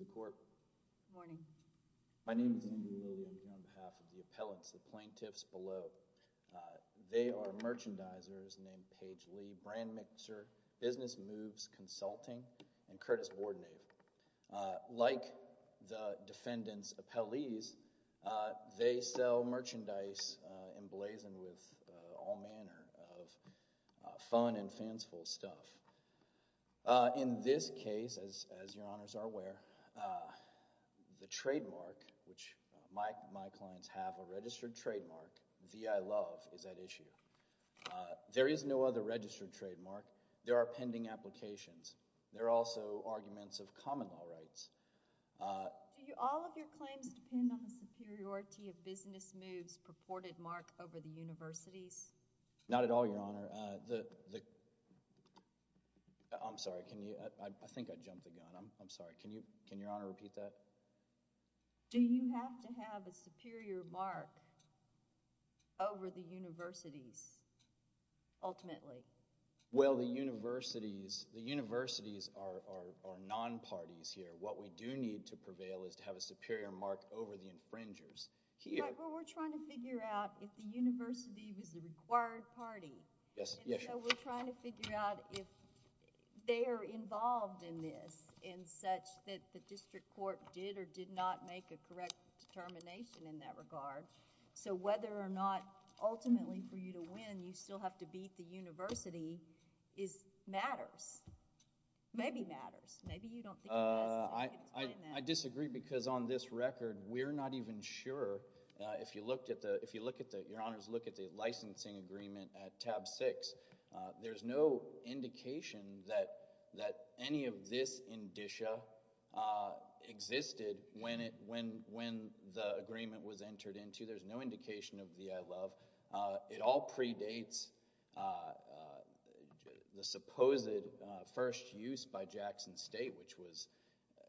Good morning. My name is Anthony Lilley. I'm here on behalf of the appellants, the plaintiffs below. They are merchandisers named Paige Lee, Brand Mixer, Business Moves Consulting, and Curtis Boardnave. Like the defendants' appellees, they sell merchandise emblazoned with all manner of fun and fanciful stuff. In this case, as your honors are aware, the trademark, which my clients have a registered trademark, VI Love is at issue. There is no other registered trademark. There are pending applications. There are also arguments of common law rights. Do all of your claims depend on the superiority of Business Moves purported mark over the universities? Not at all, your honor. I'm sorry. I think I jumped the gun. I'm sorry. Can your honor repeat that? Do you have to have a superior mark over the Well, the universities are non-parties here. What we do need to prevail is to have a superior mark over the infringers. But we're trying to figure out if the university was the required party. We're trying to figure out if they are involved in this in such that the district court did or did not make a correct determination in that regard. So whether or not ultimately for you to win, you still have to beat the university matters. Maybe matters. Maybe you don't think it does. I disagree because on this record, we're not even sure. If you looked at the, if you look at the, your honors look at the licensing agreement at tab six, there's no indication that any of this indicia existed when the agreement was entered into. There's no indication of the I love. It all predates the supposed first use by Jackson State, which was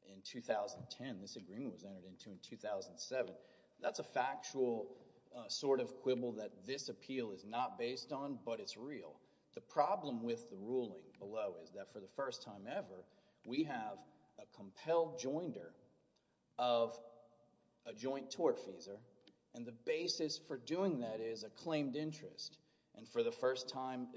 in 2010. This agreement was entered into in 2007. That's a factual sort of quibble that this appeal is not based on, but it's real. The problem with the ruling below is that for the first time ever, we have a compelled joinder of a joint tortfeasor and the basis for doing that is a claimed interest. And for the first time,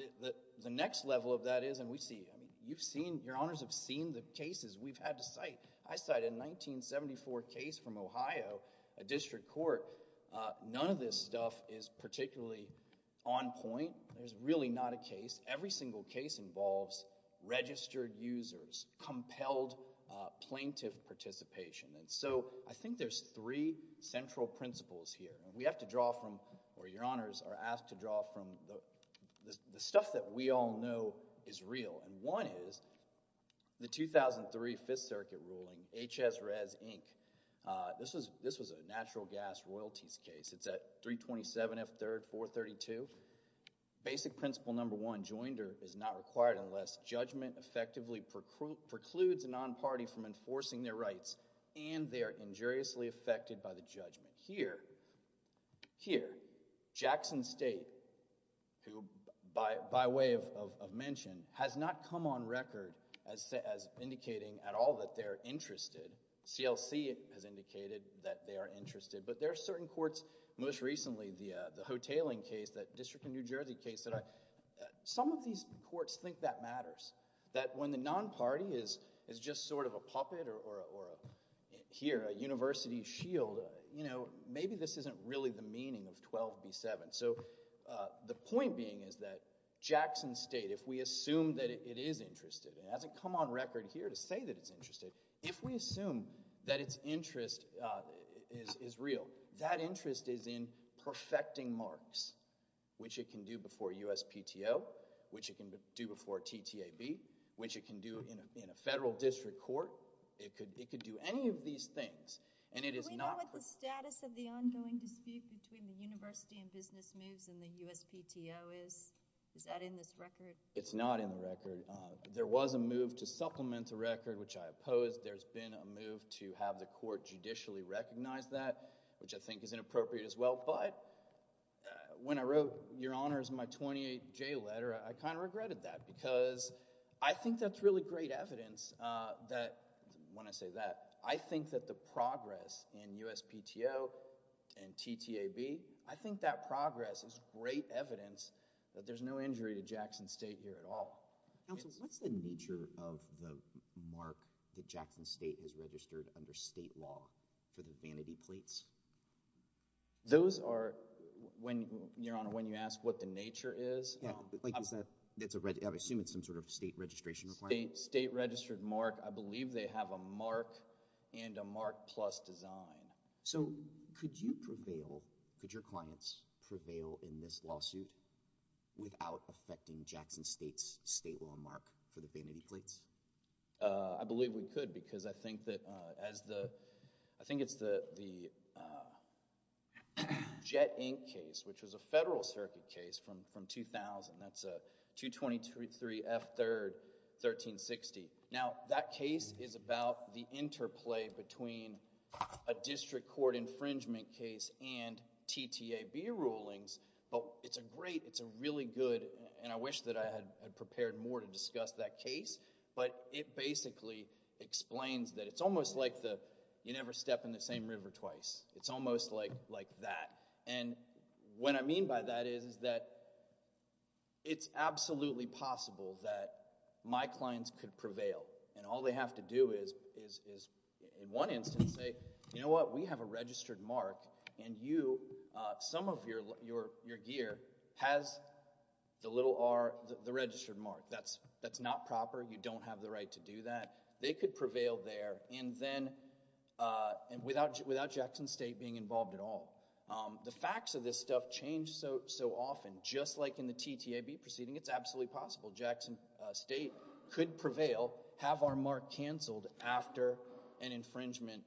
the next level of that is, and we see, you've seen, your honors have seen the cases we've had to cite. I cited a 1974 case from Ohio, a district court. None of this stuff is particularly on point. There's really not a case. Every single case involves registered users, compelled plaintiff participation. And so I think there's three central principles here. We have to draw from, or your honors are asked to draw from, the stuff that we all know is real. And one is the 2003 Fifth Circuit ruling, HS Res Inc. This was a natural gas royalties case. It's at 327 F. 3rd 432. Basic principle number one, joinder is not required unless judgment effectively precludes a non-party from enforcing their rights and they are injuriously affected by the judgment. Here, Jackson State, who by way of mention, has not come on record as indicating at all that they're interested. CLC has indicated that they are interested, but there are certain courts, most recently the Hotaling case, that District of New Jersey case. Some of these courts think that matters, that when the non-party is just sort of a puppet or here, a university shield, maybe this isn't really the meaning of 12B7. So the point being is that Jackson State, if we assume that it is interested, and it hasn't come on record here to say that it's interested, if we assume that its interest is real, that we can do before USPTO, which it can do before TTAB, which it can do in a federal district court, it could do any of these things. And it is not... Do we know what the status of the ongoing dispute between the university and business moves and the USPTO is? Is that in this record? It's not in the record. There was a move to supplement the record, which I oppose. There's been a move to have the court judicially recognize that, which I think is inappropriate as well. But when I wrote your honors in my 28J letter, I kind of regretted that because I think that's really great evidence that, when I say that, I think that the progress in USPTO and TTAB, I think that progress is great evidence that there's no injury to Jackson State here at all. Counsel, what's the nature of the mark that Jackson State has registered under state law for the vanity plates? Those are... Your Honor, when you ask what the nature is... Yeah, like is that... I'm assuming it's some sort of state registration requirement. State registered mark. I believe they have a mark and a mark plus design. So could you prevail, could your clients prevail in this lawsuit without affecting Jackson State's state law mark for the vanity plates? I believe we could because I think that as the... I think it's the Jet Ink case, which was a federal circuit case from 2000. That's a 223 F. 3rd, 1360. Now, that case is about the interplay between a district court infringement case and TTAB rulings. It's a great, it's a really good, and I wish that I had prepared more to discuss that case, but it basically explains that it's almost like you never step in the same river twice. It's almost like that. What I mean by that is that it's absolutely possible that my clients could prevail and all they have to do is, in one instance, say, you know what, we have a registered mark and you, some of your gear has the little R, the registered mark. That's not proper. You don't have the right to do that. They could prevail there and then, and without Jackson State being involved at all. The facts of this stuff change so often. Just like in the TTAB proceeding, it's absolutely possible Jackson State could prevail, have our mark canceled after an infringement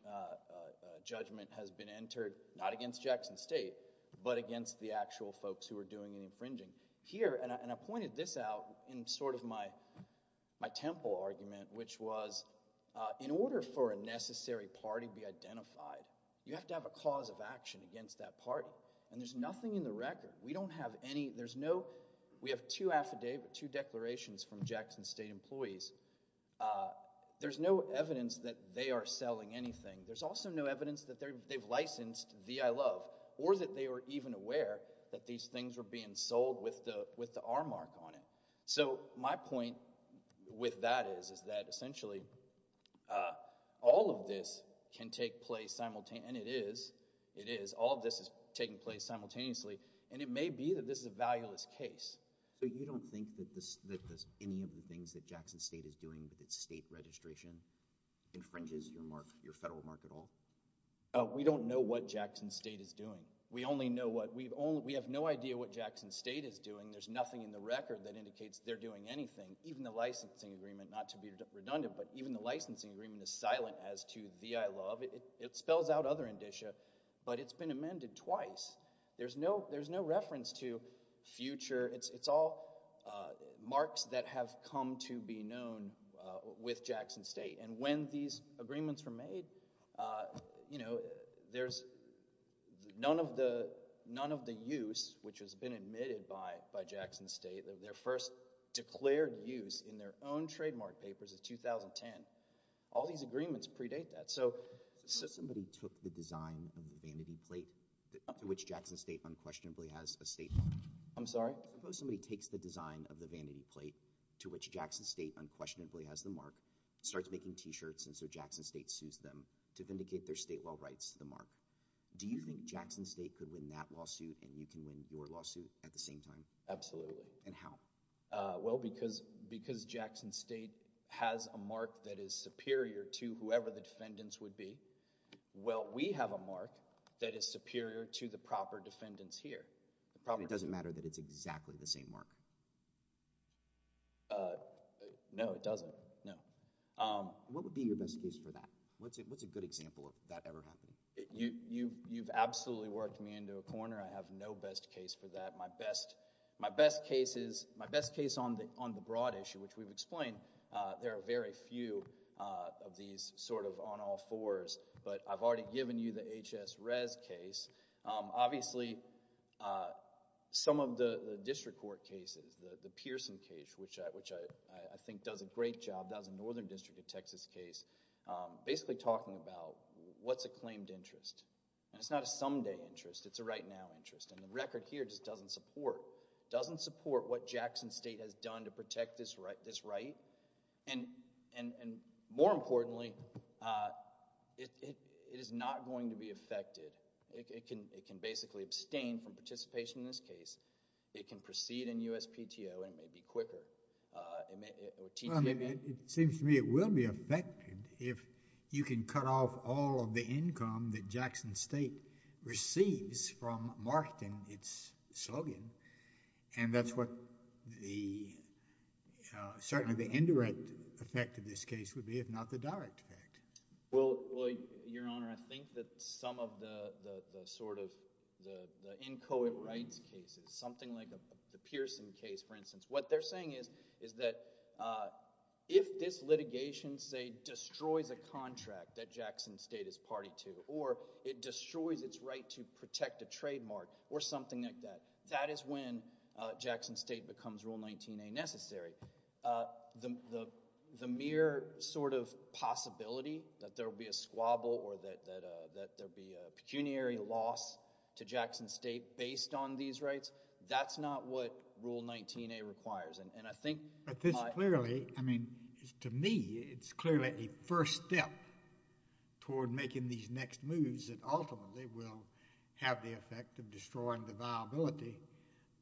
judgment has been entered, not against Jackson State, but against the actual folks who are doing the infringing. Here, and I pointed this out in sort of my temple argument, which was in order for a necessary party to be identified, you have to have a cause of action against that party, and there's nothing in the record. We don't have any, there's no, we have two affidavit, two declarations from Jackson State employees. There's no evidence that they are selling anything. There's also no evidence that they've licensed the I Love or that they were even aware that these things were being sold with the R mark on it. So my point with that is, is that essentially all of this can take place simultaneously, and it is. All of this is taking place simultaneously, and it may be that this is a valueless case. So you don't think that any of the things that Jackson State is doing with its state registration infringes your mark, your federal mark at all? We don't know what Jackson State is doing. We only know what, we have no idea what Jackson State is doing. There's nothing in the record that indicates they're doing anything. Even the licensing agreement, not to be redundant, but even the licensing agreement is silent as to the I but it's been amended twice. There's no reference to future, it's all marks that have come to be known with Jackson State. And when these agreements were made, you know, there's none of the use, which has been admitted by Jackson State, their first declared use in their own trademark papers is 2010. All these agreements predate that. So, so somebody took the design of the vanity plate to which Jackson State unquestionably has a state mark. I'm sorry? Suppose somebody takes the design of the vanity plate to which Jackson State unquestionably has the mark, starts making t-shirts and so Jackson State sues them to vindicate their state well rights to the mark. Do you think Jackson State could win that lawsuit and you can win your lawsuit at the same time? Absolutely. And how? Well, because, because Jackson State has a mark that is superior to whoever the defendants would be. Well, we have a mark that is superior to the proper defendants here. It probably doesn't matter that it's exactly the same mark. No, it doesn't. No. What would be your best case for that? What's it, what's a good example of that ever happened? You, you, you've absolutely worked me into a corner. I have no best case for that. My best, my best case is, my best case on the, on the broad issue, which we've explained, uh, there are very few, uh, of these sort of on all fours, but I've already given you the HS Rez case. Um, obviously, uh, some of the, the district court cases, the, the Pearson case, which I, which I, I think does a great job, that was a northern district of Texas case, um, basically talking about what's a claimed interest. And it's not a someday interest. It's a right now interest. And the record here just doesn't support, doesn't support what Jackson State has done to protect this right, this right. And, and, and more importantly, uh, it, it, it is not going to be affected. It can, it can basically abstain from participation in this case. It can proceed in USPTO and it may be quicker. Uh, it may, it, it seems to me it will be affected if you can cut off all of the income that Jackson State receives from marketing its slogan. And that's what the, uh, certainly the indirect effect of this case would be, if not the direct effect. Well, well, Your Honor, I think that some of the, the, the sort of the, the inchoate rights cases, something like the Pearson case, for instance, what they're saying is, is that, uh, if this litigation, say, destroys a contract that Jackson State is party to, or it destroys its right to protect a trademark or something like that, that is when, uh, Jackson State becomes Rule 19A necessary. Uh, the, the, the mere sort of possibility that there'll be a squabble or that, that, uh, that there'll be a squabble, that's what Rule 19A requires. And, and I think... But this clearly, I mean, to me, it's clearly a first step toward making these next moves that ultimately will have the effect of destroying the viability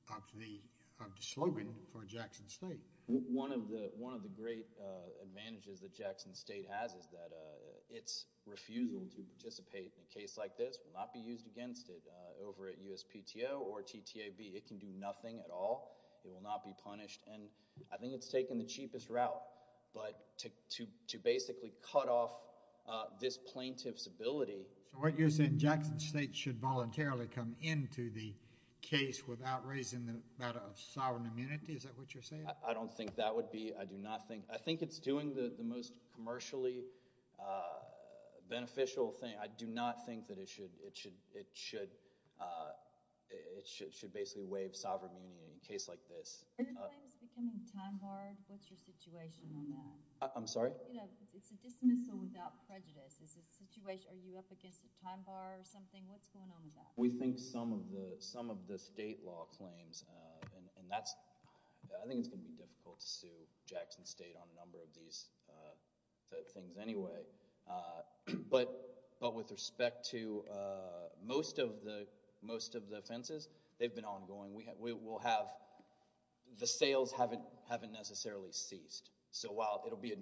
of the, of the slogan for Jackson State. One of the, one of the great, uh, advantages that Jackson State has is that, uh, its refusal to participate in a case like this will not be used against it, uh, over at USPTO or TTAB. It can do nothing at all. It will not be punished. And I think it's taken the cheapest route, but to, to, to basically cut off, uh, this plaintiff's ability... So what you're saying, Jackson State should voluntarily come into the case without raising the matter of sovereign immunity, is that what you're saying? I don't think that would be, I do not think, I think it's doing the, the most commercially, uh, beneficial thing. I do not think that it should, it should, it should, uh, it should, it should basically waive sovereign immunity in a case like this. Are your claims becoming time barred? What's your situation on that? I'm sorry? You know, it's a dismissal without prejudice. Is the situation, are you up against a time bar or something? What's going on with that? We think some of the, some of the state law claims, uh, and, and that's, I think it's gonna be difficult to sue Jackson State on a number of these, uh, things anyway. Uh, but, but with respect to, uh, most of the, most of the offenses, they've been ongoing. We, we will have, the sales haven't, haven't necessarily ceased. So while it'll be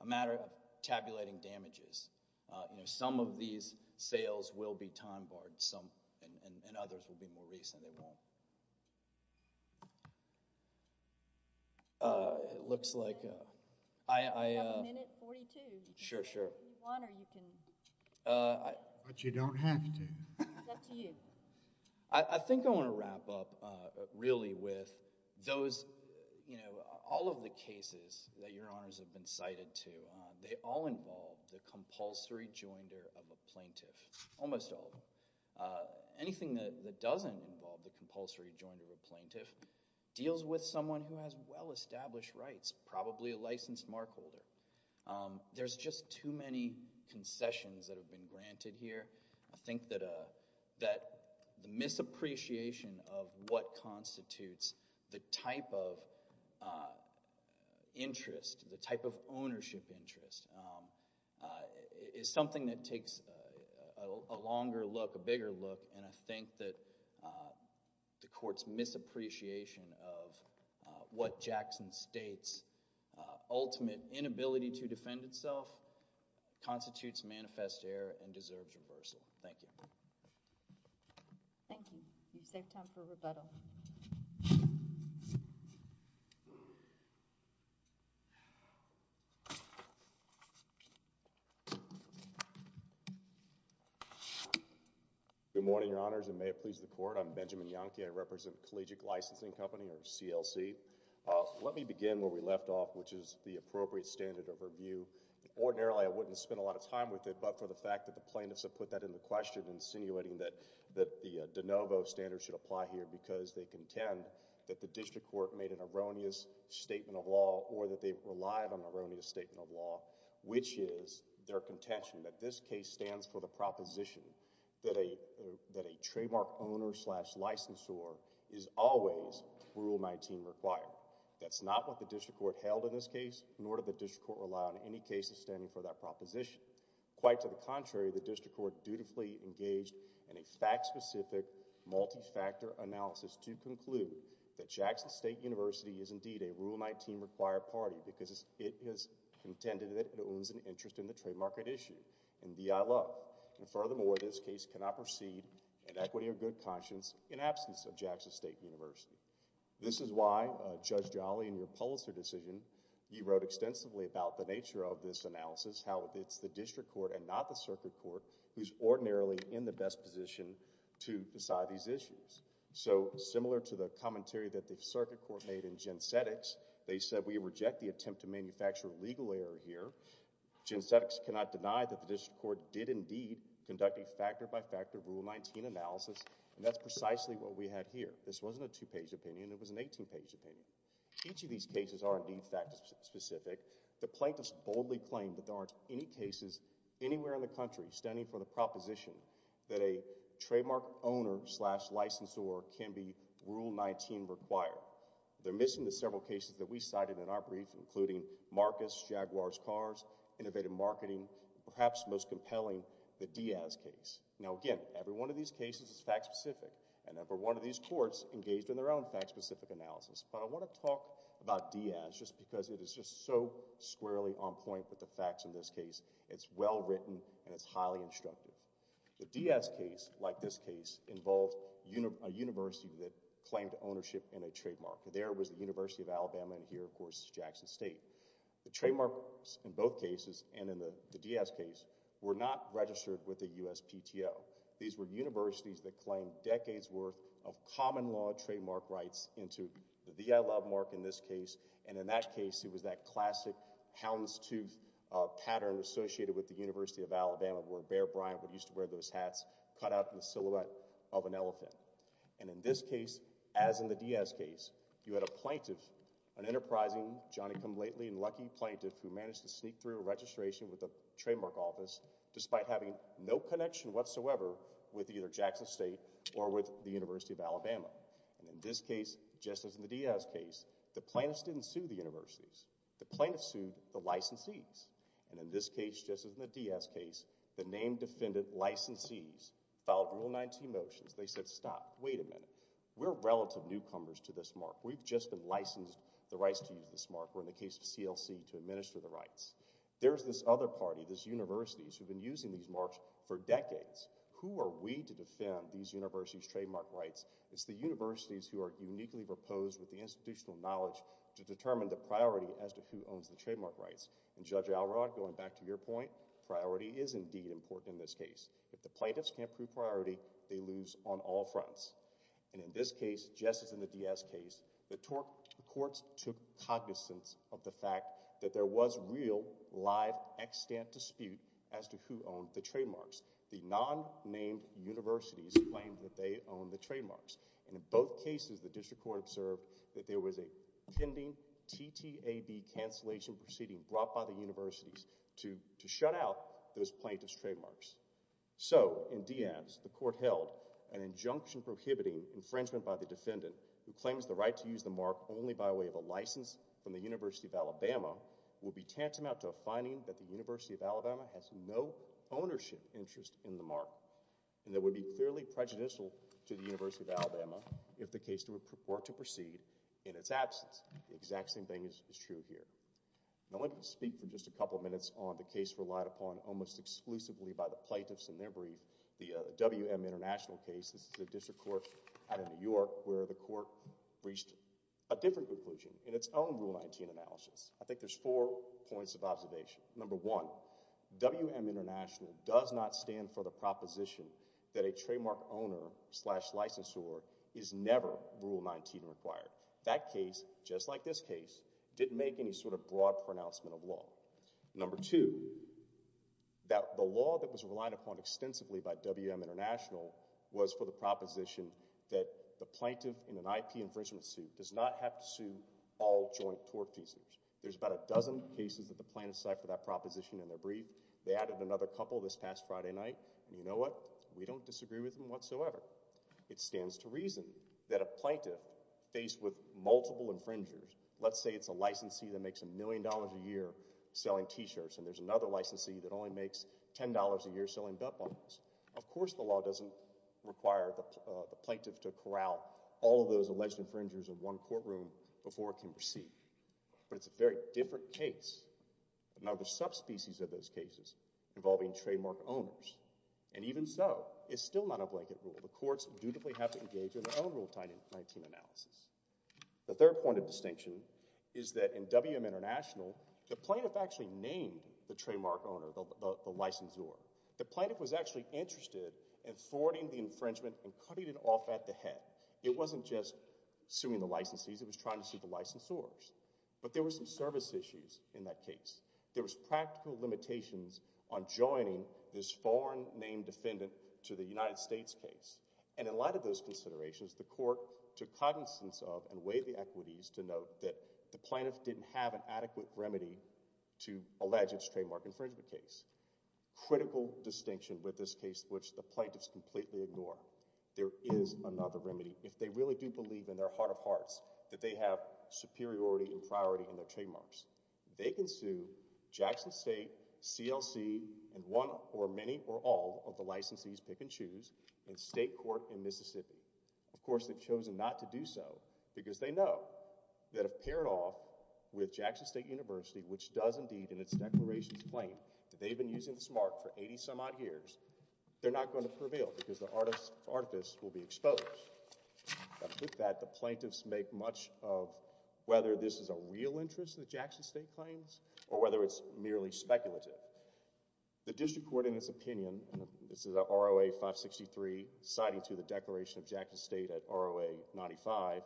a matter of tabulating damages, uh, you know, some of those will be time barred. Some, and, and others will be more recent. They won't. Uh, it looks like, uh, I, I, uh. You have a minute and forty-two. Sure, sure. You want or you can. Uh, I. But you don't have to. It's up to you. I, I think I want to wrap up, uh, really with those, you know, all of the cases that Your Honors have been cited to, uh, they all involve the compulsory joinder of a plaintiff, almost all of them. Uh, anything that, that doesn't involve the compulsory joinder of a plaintiff deals with someone who has well-established rights, probably a licensed mark holder. Um, there's just too many concessions that have been granted here. I think that, uh, that the misappreciation of what constitutes the type of, uh, interest, the type of ownership interest, um, uh, is something that takes, uh, a longer look, a bigger look, and I think that, uh, the court's misappreciation of, uh, what Jackson states, uh, ultimate inability to defend itself constitutes manifest error and deserves reversal. Thank you. Thank you. You've saved time for rebuttal. Good morning, Your Honors, and may it please the Court. I'm Benjamin Yonke. I represent Collegiate Licensing Company, or CLC. Uh, let me begin where we left off, which is the appropriate standard of review. Ordinarily, I wouldn't spend a lot of time with it, but for the fact that the District Court has been insinuating that, that the, uh, de novo standards should apply here because they contend that the District Court made an erroneous statement of law or that they relied on an erroneous statement of law, which is their contention that this case stands for the proposition that a, uh, that a trademark owner slash licensor is always Rule 19 required. That's not what the District Court held in this case, nor did the District Court rely on any cases standing for that proposition. Quite to the contrary, the District Court dutifully engaged in a fact-specific, multi-factor analysis to conclude that Jackson State University is indeed a Rule 19 required party because it has contended that it owns an interest in the trademark issue and the ILO. And furthermore, this case cannot proceed in equity of good conscience in absence of Jackson State University. This is why, uh, Judge Jolly, in your Pulitzer decision, you wrote extensively about the nature of this analysis, how it's the District Court and not the Circuit Court who's ordinarily in the best position to decide these issues. So, similar to the commentary that the Circuit Court made in Gensetics, they said we reject the attempt to manufacture a legal error here. Gensetics cannot deny that the District Court did indeed conduct a factor-by-factor Rule 19 analysis, and that's precisely what we had here. This wasn't a two-page opinion. It was an fact-specific. The plaintiffs boldly claimed that there aren't any cases anywhere in the country standing for the proposition that a trademark owner-slash-licensor can be Rule 19 required. They're missing the several cases that we cited in our brief, including Marcus, Jaguar's Cars, Innovative Marketing, perhaps most compelling, the Diaz case. Now, again, every one of these cases is fact-specific, and every one of these courts engaged in their own fact-specific analysis. But I want to talk about Diaz just because it is just so squarely on point with the facts in this case. It's well-written, and it's highly instructive. The Diaz case, like this case, involved a university that claimed ownership in a trademark. There was the University of Alabama, and here, of course, is Jackson State. The trademarks in both cases, and in the Diaz case, were not registered with the USPTO. These were universities that claimed decades' worth of common law trademark rights into the DILM mark in this case, and in that case, it was that classic houndstooth pattern associated with the University of Alabama, where Bear Bryant would used to wear those hats cut out in the silhouette of an elephant. And in this case, as in the Diaz case, you had a plaintiff, an enterprising, Johnny-come-lately and lucky plaintiff, who managed to sneak through a registration with the Trademark Office, despite having no connection whatsoever with either Jackson State or with the University of Alabama. And in this case, just as in the Diaz case, the plaintiffs didn't sue the universities. The plaintiffs sued the licensees. And in this case, just as in the Diaz case, the named defendant licensees filed Rule 19 motions. They said, stop. Wait a minute. We're relative newcomers to this mark. We've just been licensed the rights to use this mark. We're in the case of CLC to administer the Who are we to defend these universities' trademark rights? It's the universities who are uniquely proposed with the institutional knowledge to determine the priority as to who owns the trademark rights. And Judge Alrod, going back to your point, priority is indeed important in this case. If the plaintiffs can't prove priority, they lose on all fronts. And in this case, just as in the Diaz case, the courts took cognizance of the fact that there was real, live, extant dispute as to who owned the trademarks. The non-named universities claimed that they owned the trademarks. And in both cases, the district court observed that there was a pending TTAB cancellation proceeding brought by the universities to shut out those plaintiff's trademarks. So in Diaz, the court held an injunction prohibiting infringement by the defendant who claims the right to use the mark only by way of a license from the University of Alabama will be tantamount to a finding that the University of Alabama has no ownership interest in the mark and that would be clearly prejudicial to the University of Alabama if the case were to proceed in its absence. The exact same thing is true here. I want to speak for just a couple of minutes on the case relied upon almost exclusively by the plaintiffs in their brief, the WM International case. This is a district court out of New York where the court reached a different conclusion in its own Rule 19 analysis. I think there's four points of observation. Number one, WM International does not stand for the proposition that a trademark owner slash licensor is never Rule 19 required. That case, just like this case, didn't make any sort of broad pronouncement of law. Number two, that the law that was relied upon extensively by WM International was for the proposition that the plaintiff in an IP infringement suit does not have to sue all joint tour pieces. There's about a dozen cases that the plaintiffs cite for that proposition in their brief. They added another couple this past Friday night. You know what? We don't disagree with them whatsoever. It stands to reason that a plaintiff faced with multiple infringers, let's say it's a licensee that makes a million dollars a year selling t-shirts and there's another licensee that only makes ten dollars a year selling butt bottles. Of course, the law doesn't require the plaintiff to corral all of those alleged infringers in one courtroom before it can proceed, but it's a very different case. Another subspecies of those cases involving trademark owners and even so, it's still not a blanket rule. The courts dutifully have to engage in their own Rule 19 analysis. The third point of distinction is that in WM International, the plaintiff actually named the trademark owner, the licensor. The plaintiff was actually interested in thwarting the infringement and cutting it off at the head. It wasn't just suing the licensees, it was trying to sue the licensors, but there were some service issues in that case. There was practical limitations on joining this foreign named defendant to the United States case and in light of those considerations, the court took cognizance of and weighed the equities to note that the plaintiff didn't have an adequate remedy to allege its trademark infringement case. Critical distinction with this case, which the plaintiffs completely ignore. There is another remedy. If they really do believe in their heart of hearts that they have superiority and priority in their trademarks, they can sue Jackson State, CLC, and one or many or all of the licensees pick and choose in state court in Mississippi. Of course, they've chosen not to do so because they know that if paired off with Jackson State University, which does indeed in its declarations claim that they've been using this mark for 80 some odd years, they're not going to prevail because the artifice will be exposed. With that, the plaintiffs make much of whether this is a real interest that Jackson State claims or whether it's merely speculative. The district court, in its opinion, this is a ROA 563, citing to the Declaration of Jackson State at ROA 95,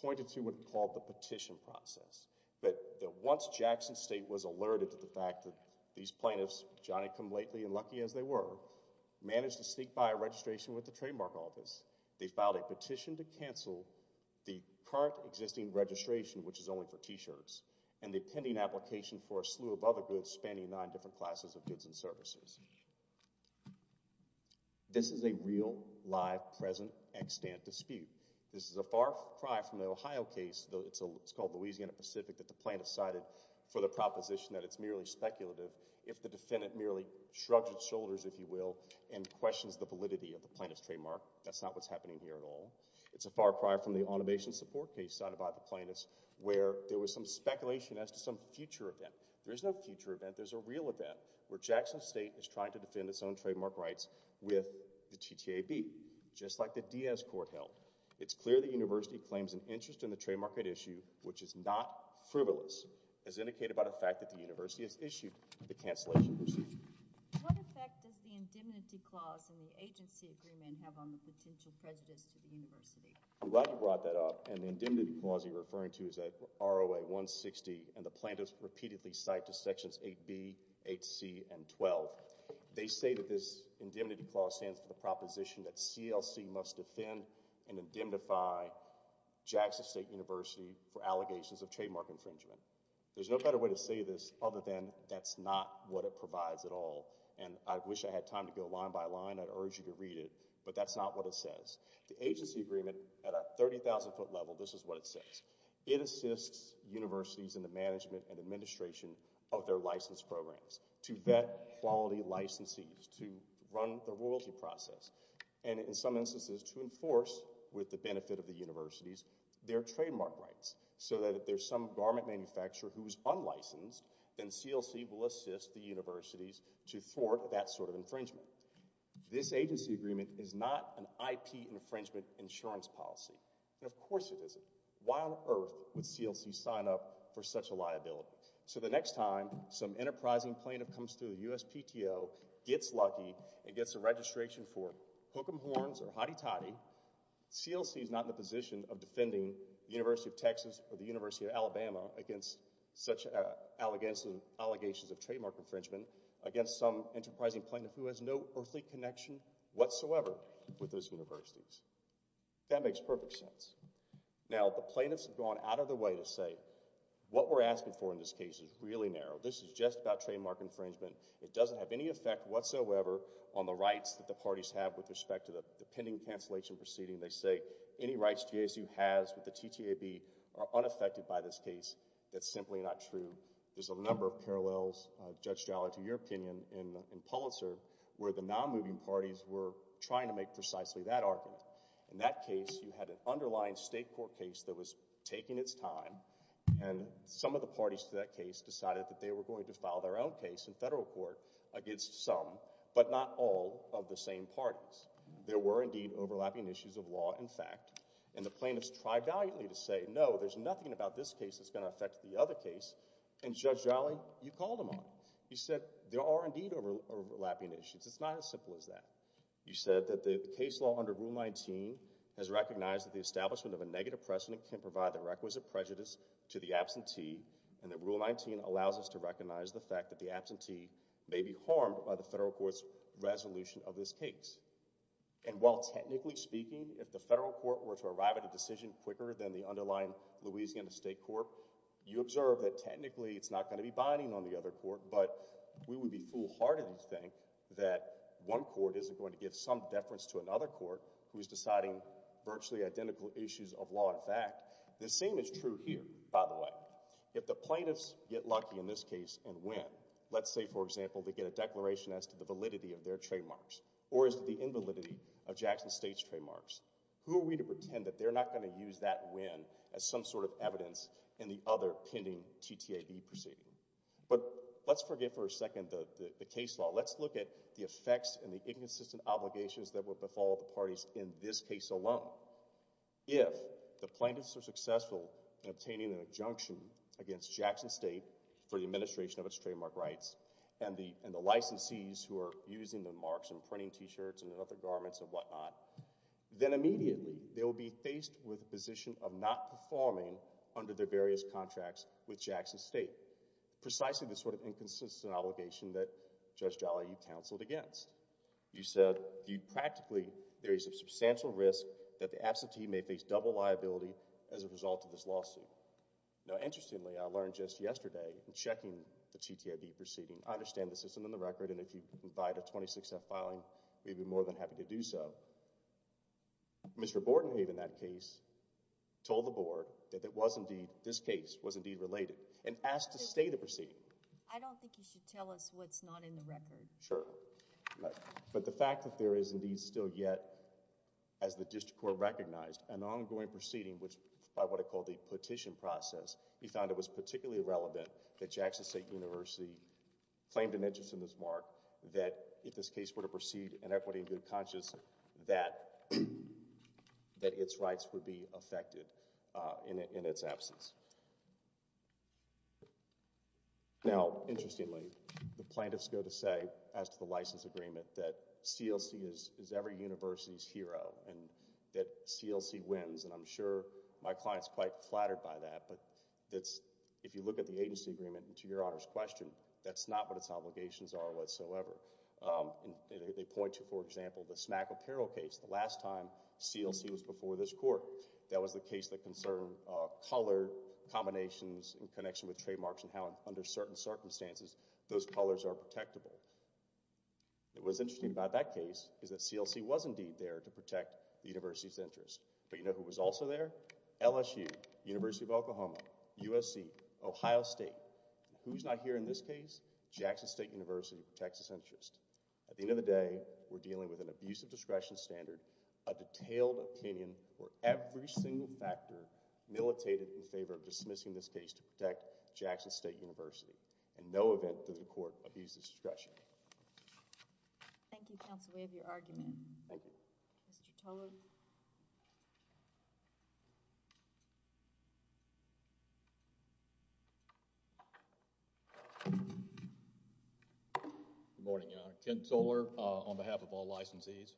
pointed to what we call the petition process, that there once Jackson State was alerted to the fact that these plaintiffs, Johnny come lately and lucky as they were, managed to sneak by a registration with the trademark office, they filed a petition to cancel the current existing registration, which is only for t-shirts, and the pending application for a slew of other goods spanning nine different classes of goods and services. This is a real, live, present, extant dispute. This is a far cry from the Ohio case, though it's for the proposition that it's merely speculative if the defendant merely shrugs its shoulders, if you will, and questions the validity of the plaintiff's trademark. That's not what's happening here at all. It's a far cry from the automation support case cited by the plaintiffs where there was some speculation as to some future event. There is no future event, there's a real event where Jackson State is trying to defend its own trademark rights with the TTAB, just like the Diaz court held. It's clear the university claims an interest in the trademark right issue, which is not frivolous, is indicated by the fact that the university has issued the cancellation receipt. What effect does the indemnity clause in the agency agreement have on the potential prejudice to the university? I'm glad you brought that up, and the indemnity clause you're referring to is at ROA 160, and the plaintiffs repeatedly cite to sections 8b, 8c, and 12. They say that this indemnity clause stands for the proposition that for allegations of trademark infringement. There's no better way to say this other than that's not what it provides at all, and I wish I had time to go line by line. I'd urge you to read it, but that's not what it says. The agency agreement at a 30,000-foot level, this is what it says. It assists universities in the management and administration of their license programs to vet quality licensees, to run the royalty process, and in some instances to enforce, with the benefit of the universities, their trademark rights, so that if there's some garment manufacturer who's unlicensed, then CLC will assist the universities to thwart that sort of infringement. This agency agreement is not an IP infringement insurance policy, and of course it isn't. Why on earth would CLC sign up for such a liability? So the next time some enterprising plaintiff comes through the USPTO, gets lucky, and gets a registration for hook them horns or CLC is not in the position of defending the University of Texas or the University of Alabama against such allegations of trademark infringement against some enterprising plaintiff who has no earthly connection whatsoever with those universities. That makes perfect sense. Now the plaintiffs have gone out of their way to say what we're asking for in this case is really narrow. This is just about trademark infringement. It doesn't have any effect whatsoever on the rights that the parties have with respect to the pending cancellation proceeding. They say any rights JSU has with the TTAB are unaffected by this case. That's simply not true. There's a number of parallels, Judge Jaller, to your opinion in Pulitzer, where the non-moving parties were trying to make precisely that argument. In that case, you had an underlying state court case that was taking its time, and some of the parties to that case decided that they were going to file their own case in federal court against some, but not all, of the same parties. There were indeed overlapping issues of law and fact, and the plaintiffs tried valiantly to say no, there's nothing about this case that's going to affect the other case, and Judge Jaller, you called them on. You said there are indeed overlapping issues. It's not as simple as that. You said that the case law under Rule 19 has recognized that the establishment of a negative precedent can provide the requisite prejudice to the absentee, and that Rule 19 allows us to recognize the fact that the absentee may be harmed by the federal court's resolution of this case. And while technically speaking, if the federal court were to arrive at a decision quicker than the underlying Louisiana state court, you observe that technically it's not going to be binding on the other court, but we would be foolhardy to think that one court isn't going to give some deference to another court who is deciding virtually identical issues of law and fact. The same is true here, by the way. If the plaintiffs get lucky in this case and win, let's say, for example, they get a declaration as to the validity of their trademarks, or as to the invalidity of Jackson State's trademarks, who are we to pretend that they're not going to use that win as some sort of evidence in the other pending TTAB proceeding? But let's forget for a second the case law. Let's look at the effects and the inconsistent obligations that will befall the parties in this case alone. If the plaintiffs are successful in obtaining an injunction against Jackson State for the administration of its trademark rights, and the licensees who are using the marks and printing t-shirts and other garments and whatnot, then immediately they will be faced with a position of not performing under their various contracts with Jackson State. Precisely the sort of inconsistent obligation that Judge Jolly, you counseled against. You said practically there is a substantial risk that the absentee may face double liability as a result of this lawsuit. Now, interestingly, I learned just yesterday in checking the TTAB proceeding, I understand the system in the record, and if you provide a 26-F filing, we'd be more than happy to do so. Mr. Bordenhave in that case told the board that it was indeed, this case was indeed related, and asked to stay the proceeding. I don't think you should tell us what's not in the record. Sure. But the fact that there is indeed still yet, as the district court recognized, an ongoing petition process, we found it was particularly relevant that Jackson State University claimed an interest in this mark, that if this case were to proceed in equity and good conscience, that its rights would be affected in its absence. Now, interestingly, the plaintiffs go to say, as to the license agreement, that CLC is every flattered by that, but if you look at the agency agreement, and to your honor's question, that's not what its obligations are whatsoever. They point to, for example, the smack apparel case. The last time CLC was before this court, that was the case that concerned color combinations in connection with trademarks and how, under certain circumstances, those colors are protectable. What's interesting about that case is that CLC was indeed there to protect the university's interests. It was also there, LSU, University of Oklahoma, USC, Ohio State. Who's not here in this case? Jackson State University protects its interests. At the end of the day, we're dealing with an abuse of discretion standard, a detailed opinion where every single factor militated in favor of dismissing this case to protect Jackson State University. In no event does the court abuse discretion. Thank you, counsel. We have your argument. Thank you. Mr. Tolar. Good morning, your honor. Kent Tolar on behalf of all licensees.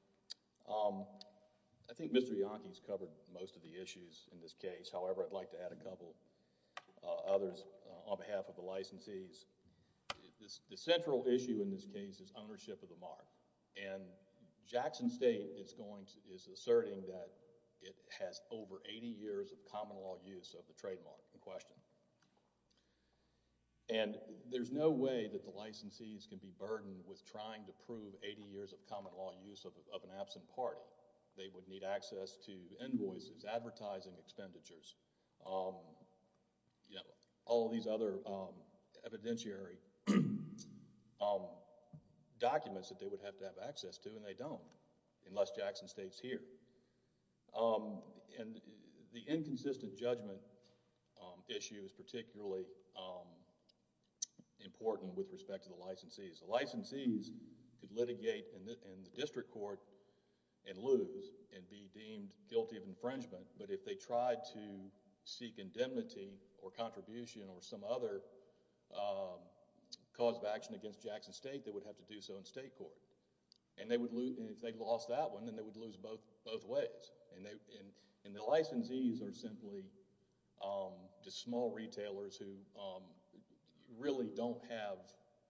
I think Mr. Ianchi has covered most of the issues in this case. However, I'd like to add a couple others on behalf of the licensees. The central issue in this case is ownership of the mark and Jackson State is going to, is asserting that it has over 80 years of common law use of the trademark in question. And there's no way that the licensees can be burdened with trying to prove 80 years of common law use of an absent party. They would need access to invoices, advertising expenditures, you know, all these other evidentiary documents that they would have to have access to and they don't unless Jackson State's here. And the inconsistent judgment issue is particularly important with respect to the licensees. The licensees could litigate in the district court and lose and be deemed guilty of seeking indemnity or contribution or some other cause of action against Jackson State that would have to do so in state court. And if they lost that one, then they would lose both ways. And the licensees are simply small retailers who really don't have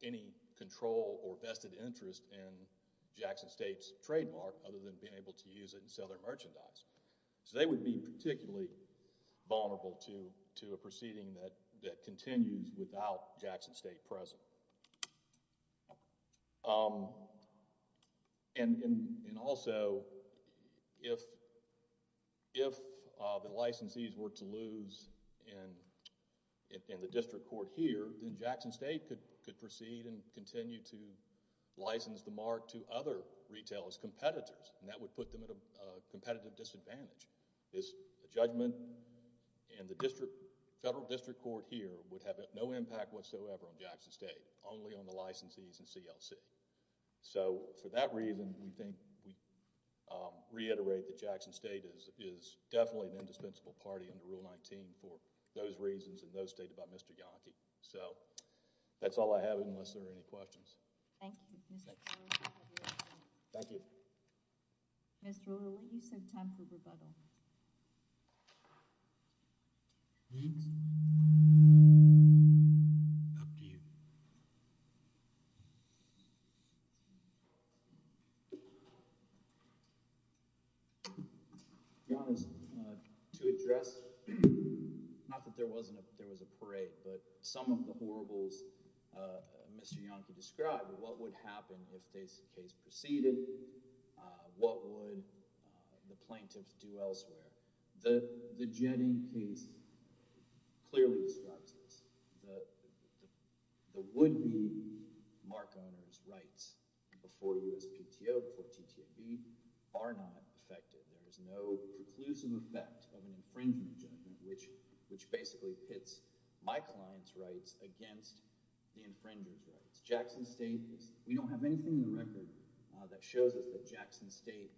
any control or vested interest in Jackson State's trademark other than being able to use it and sell their merchandise. So they would be particularly vulnerable to a proceeding that continues without Jackson State present. And also, if the licensees were to lose in the district court here, then Jackson State could proceed and continue to license the mark to other retailers, competitors, and that would put them at and the federal district court here would have no impact whatsoever on Jackson State, only on the licensees and CLC. So for that reason, we think we reiterate that Jackson State is definitely an indispensable party under Rule 19 for those reasons and those stated by Mr. Yonke. So that's all I have unless there are any questions. Thank you. Thank you. Mr. O'Reilly, you said time for rebuttal. Up to you. To be honest, to address, not that there was a parade, but some of the horribles Mr. Yonke described, what would happen if this case proceeded? What would the plaintiffs do elsewhere? The Jetty case clearly describes this. The would-be mark owners' rights before USPTO, before TTAB, are not effective. There is no preclusive effect of an infringement which basically pits my client's rights against the infringer's rights. Jackson State, we don't have anything in the record that shows us that Jackson State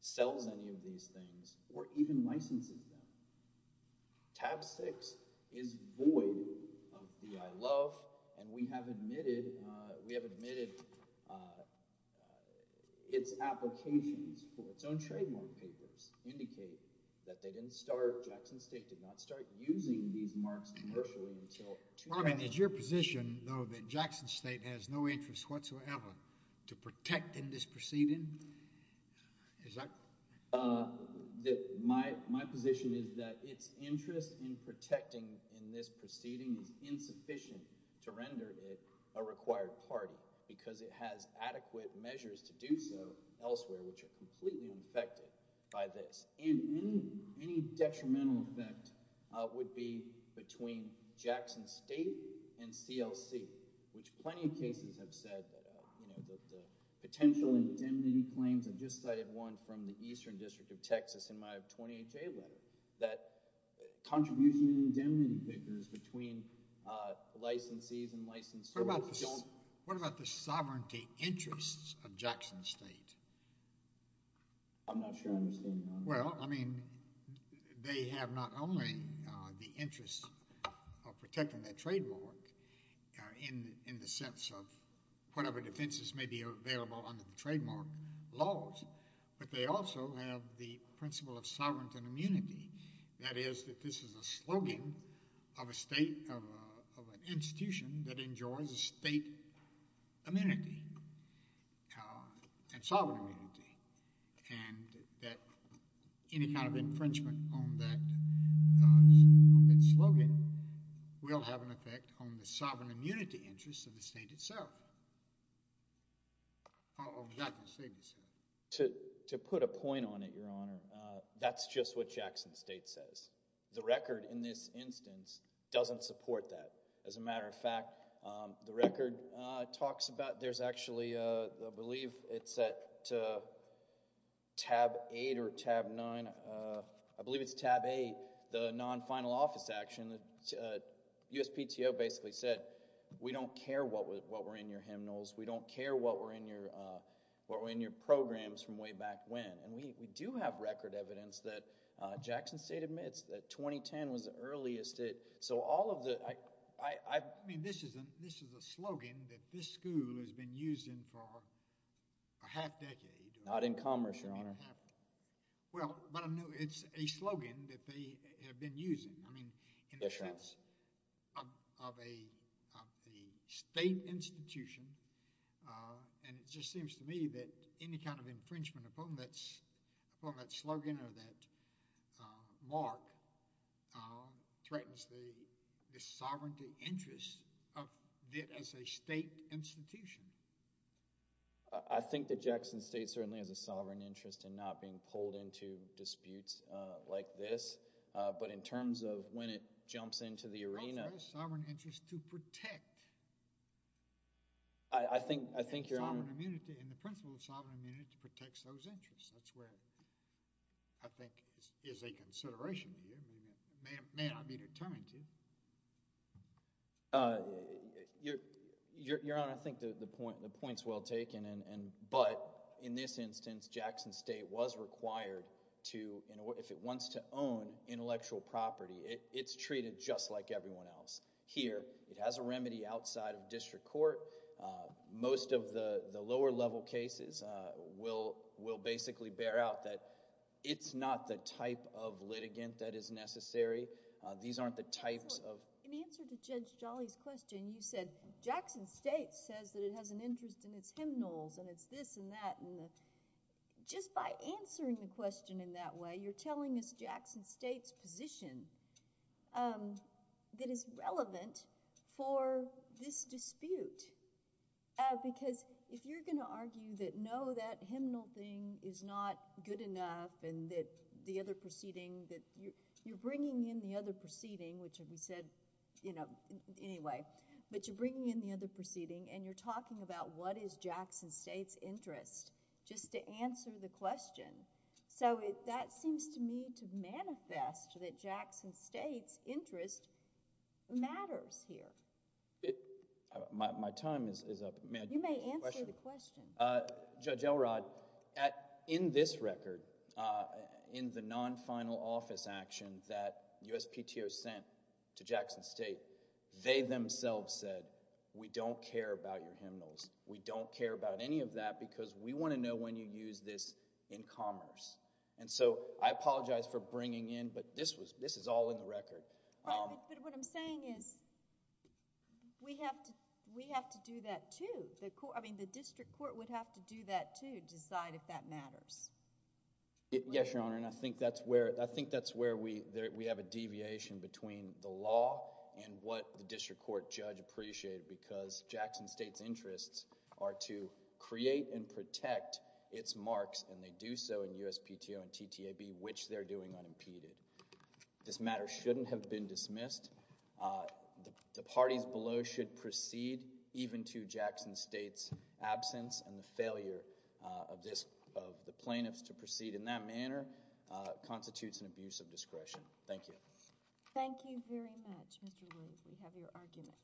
sells any of these things or even licenses them. TAB 6 is void of the ILO and we have admitted its applications for its Jackson State did not start using these marks commercially until two years ago. Robin, is your position, though, that Jackson State has no interest whatsoever to protect in this proceeding? My position is that its interest in protecting in this proceeding is insufficient to render it a required party because it has adequate measures to do so elsewhere which are completely infected by this. Any detrimental effect would be between Jackson State and CLC, which plenty of cases have said that the potential indemnity claims, I just cited one from the Eastern District of Texas in my 20HA letter, that contribution indemnity figures between licensees and licensors don't What about the sovereignty interests of Jackson State? I'm not sure I understand that. Well, I mean, they have not only the interest of protecting their trademark in the sense of whatever defenses may be available under the trademark laws, but they also have the principle of sovereignty and immunity. That is that this is a slogan of a state, of an institution that enjoys a state immunity, a sovereign immunity, and that any kind of infringement on that slogan will have an effect on the sovereign immunity interests of the state itself. To put a point on it, Your Honor, that's just what Jackson State says. The record in this record talks about, there's actually, I believe it's at tab 8 or tab 9, I believe it's tab 8, the non-final office action. USPTO basically said we don't care what were in your hymnals, we don't care what were in your programs from way back when, and we do have record evidence that 2010 was the earliest. This is a slogan that this school has been using for a half decade. Not in commerce, Your Honor. Well, but it's a slogan that they have been using. Of a state institution, and it just seems to me that any kind of infringement upon that slogan or that mark threatens the sovereignty interests of it as a state institution. I think that Jackson State certainly has a sovereign interest in not being pulled into disputes like this, but in terms of when it jumps into the arena. It has a sovereign interest to protect. I think, I think, Your Honor. Sovereign immunity and the principle of sovereign immunity protects those interests. That's where I think is a consideration to you. I mean, it may not be determined to. Your Honor, I think the point, the point's well taken and, but in this instance, Jackson State was required to, if it wants to own intellectual property, it's treated just like everyone else here. It has a remedy outside of district court. Most of the, the lower level cases will, will basically bear out that it's not the type of litigant that is necessary. These aren't the types of. In answer to Judge Jolly's question, you said Jackson State says that it has an interest in its hymnals and it's this and that. Just by answering the question in that way, you're telling us Jackson State's position that is relevant for this dispute. Because if you're going to argue that no, that hymnal thing is not good enough and that the other proceeding that you're, you're bringing in the other proceeding, which we said, you know, anyway, but you're bringing in the other proceeding and you're talking about what is Jackson State's interest just to answer the question. So it, that seems to me to manifest that Jackson State's interest matters here. It, my, my time is up. You may answer the question. Judge Elrod, at, in this record, uh, in the non-final office action that USPTO sent to Jackson State, they themselves said, we don't care about your hymnals. We don't care about any of that because we want to know when you use this in commerce. And so I apologize for bringing in, but this was, this is all in the record. But what I'm saying is we have to, we have to do that too. The court, I mean, the district court would have to do that to decide if that matters. Yes, Your Honor, and I think that's where, I think that's where we, we have a deviation between the law and what the district court judge appreciated because Jackson State's interests are to create and protect its marks and they do so in USPTO and TTAB, which they're doing unimpeded. This matter shouldn't have been dismissed. The parties below should proceed even to Jackson State's absence and the failure of this, of the plaintiffs to proceed in that manner constitutes an abuse of discretion. Thank you. Thank you very much, Mr. Rose. We have your argument.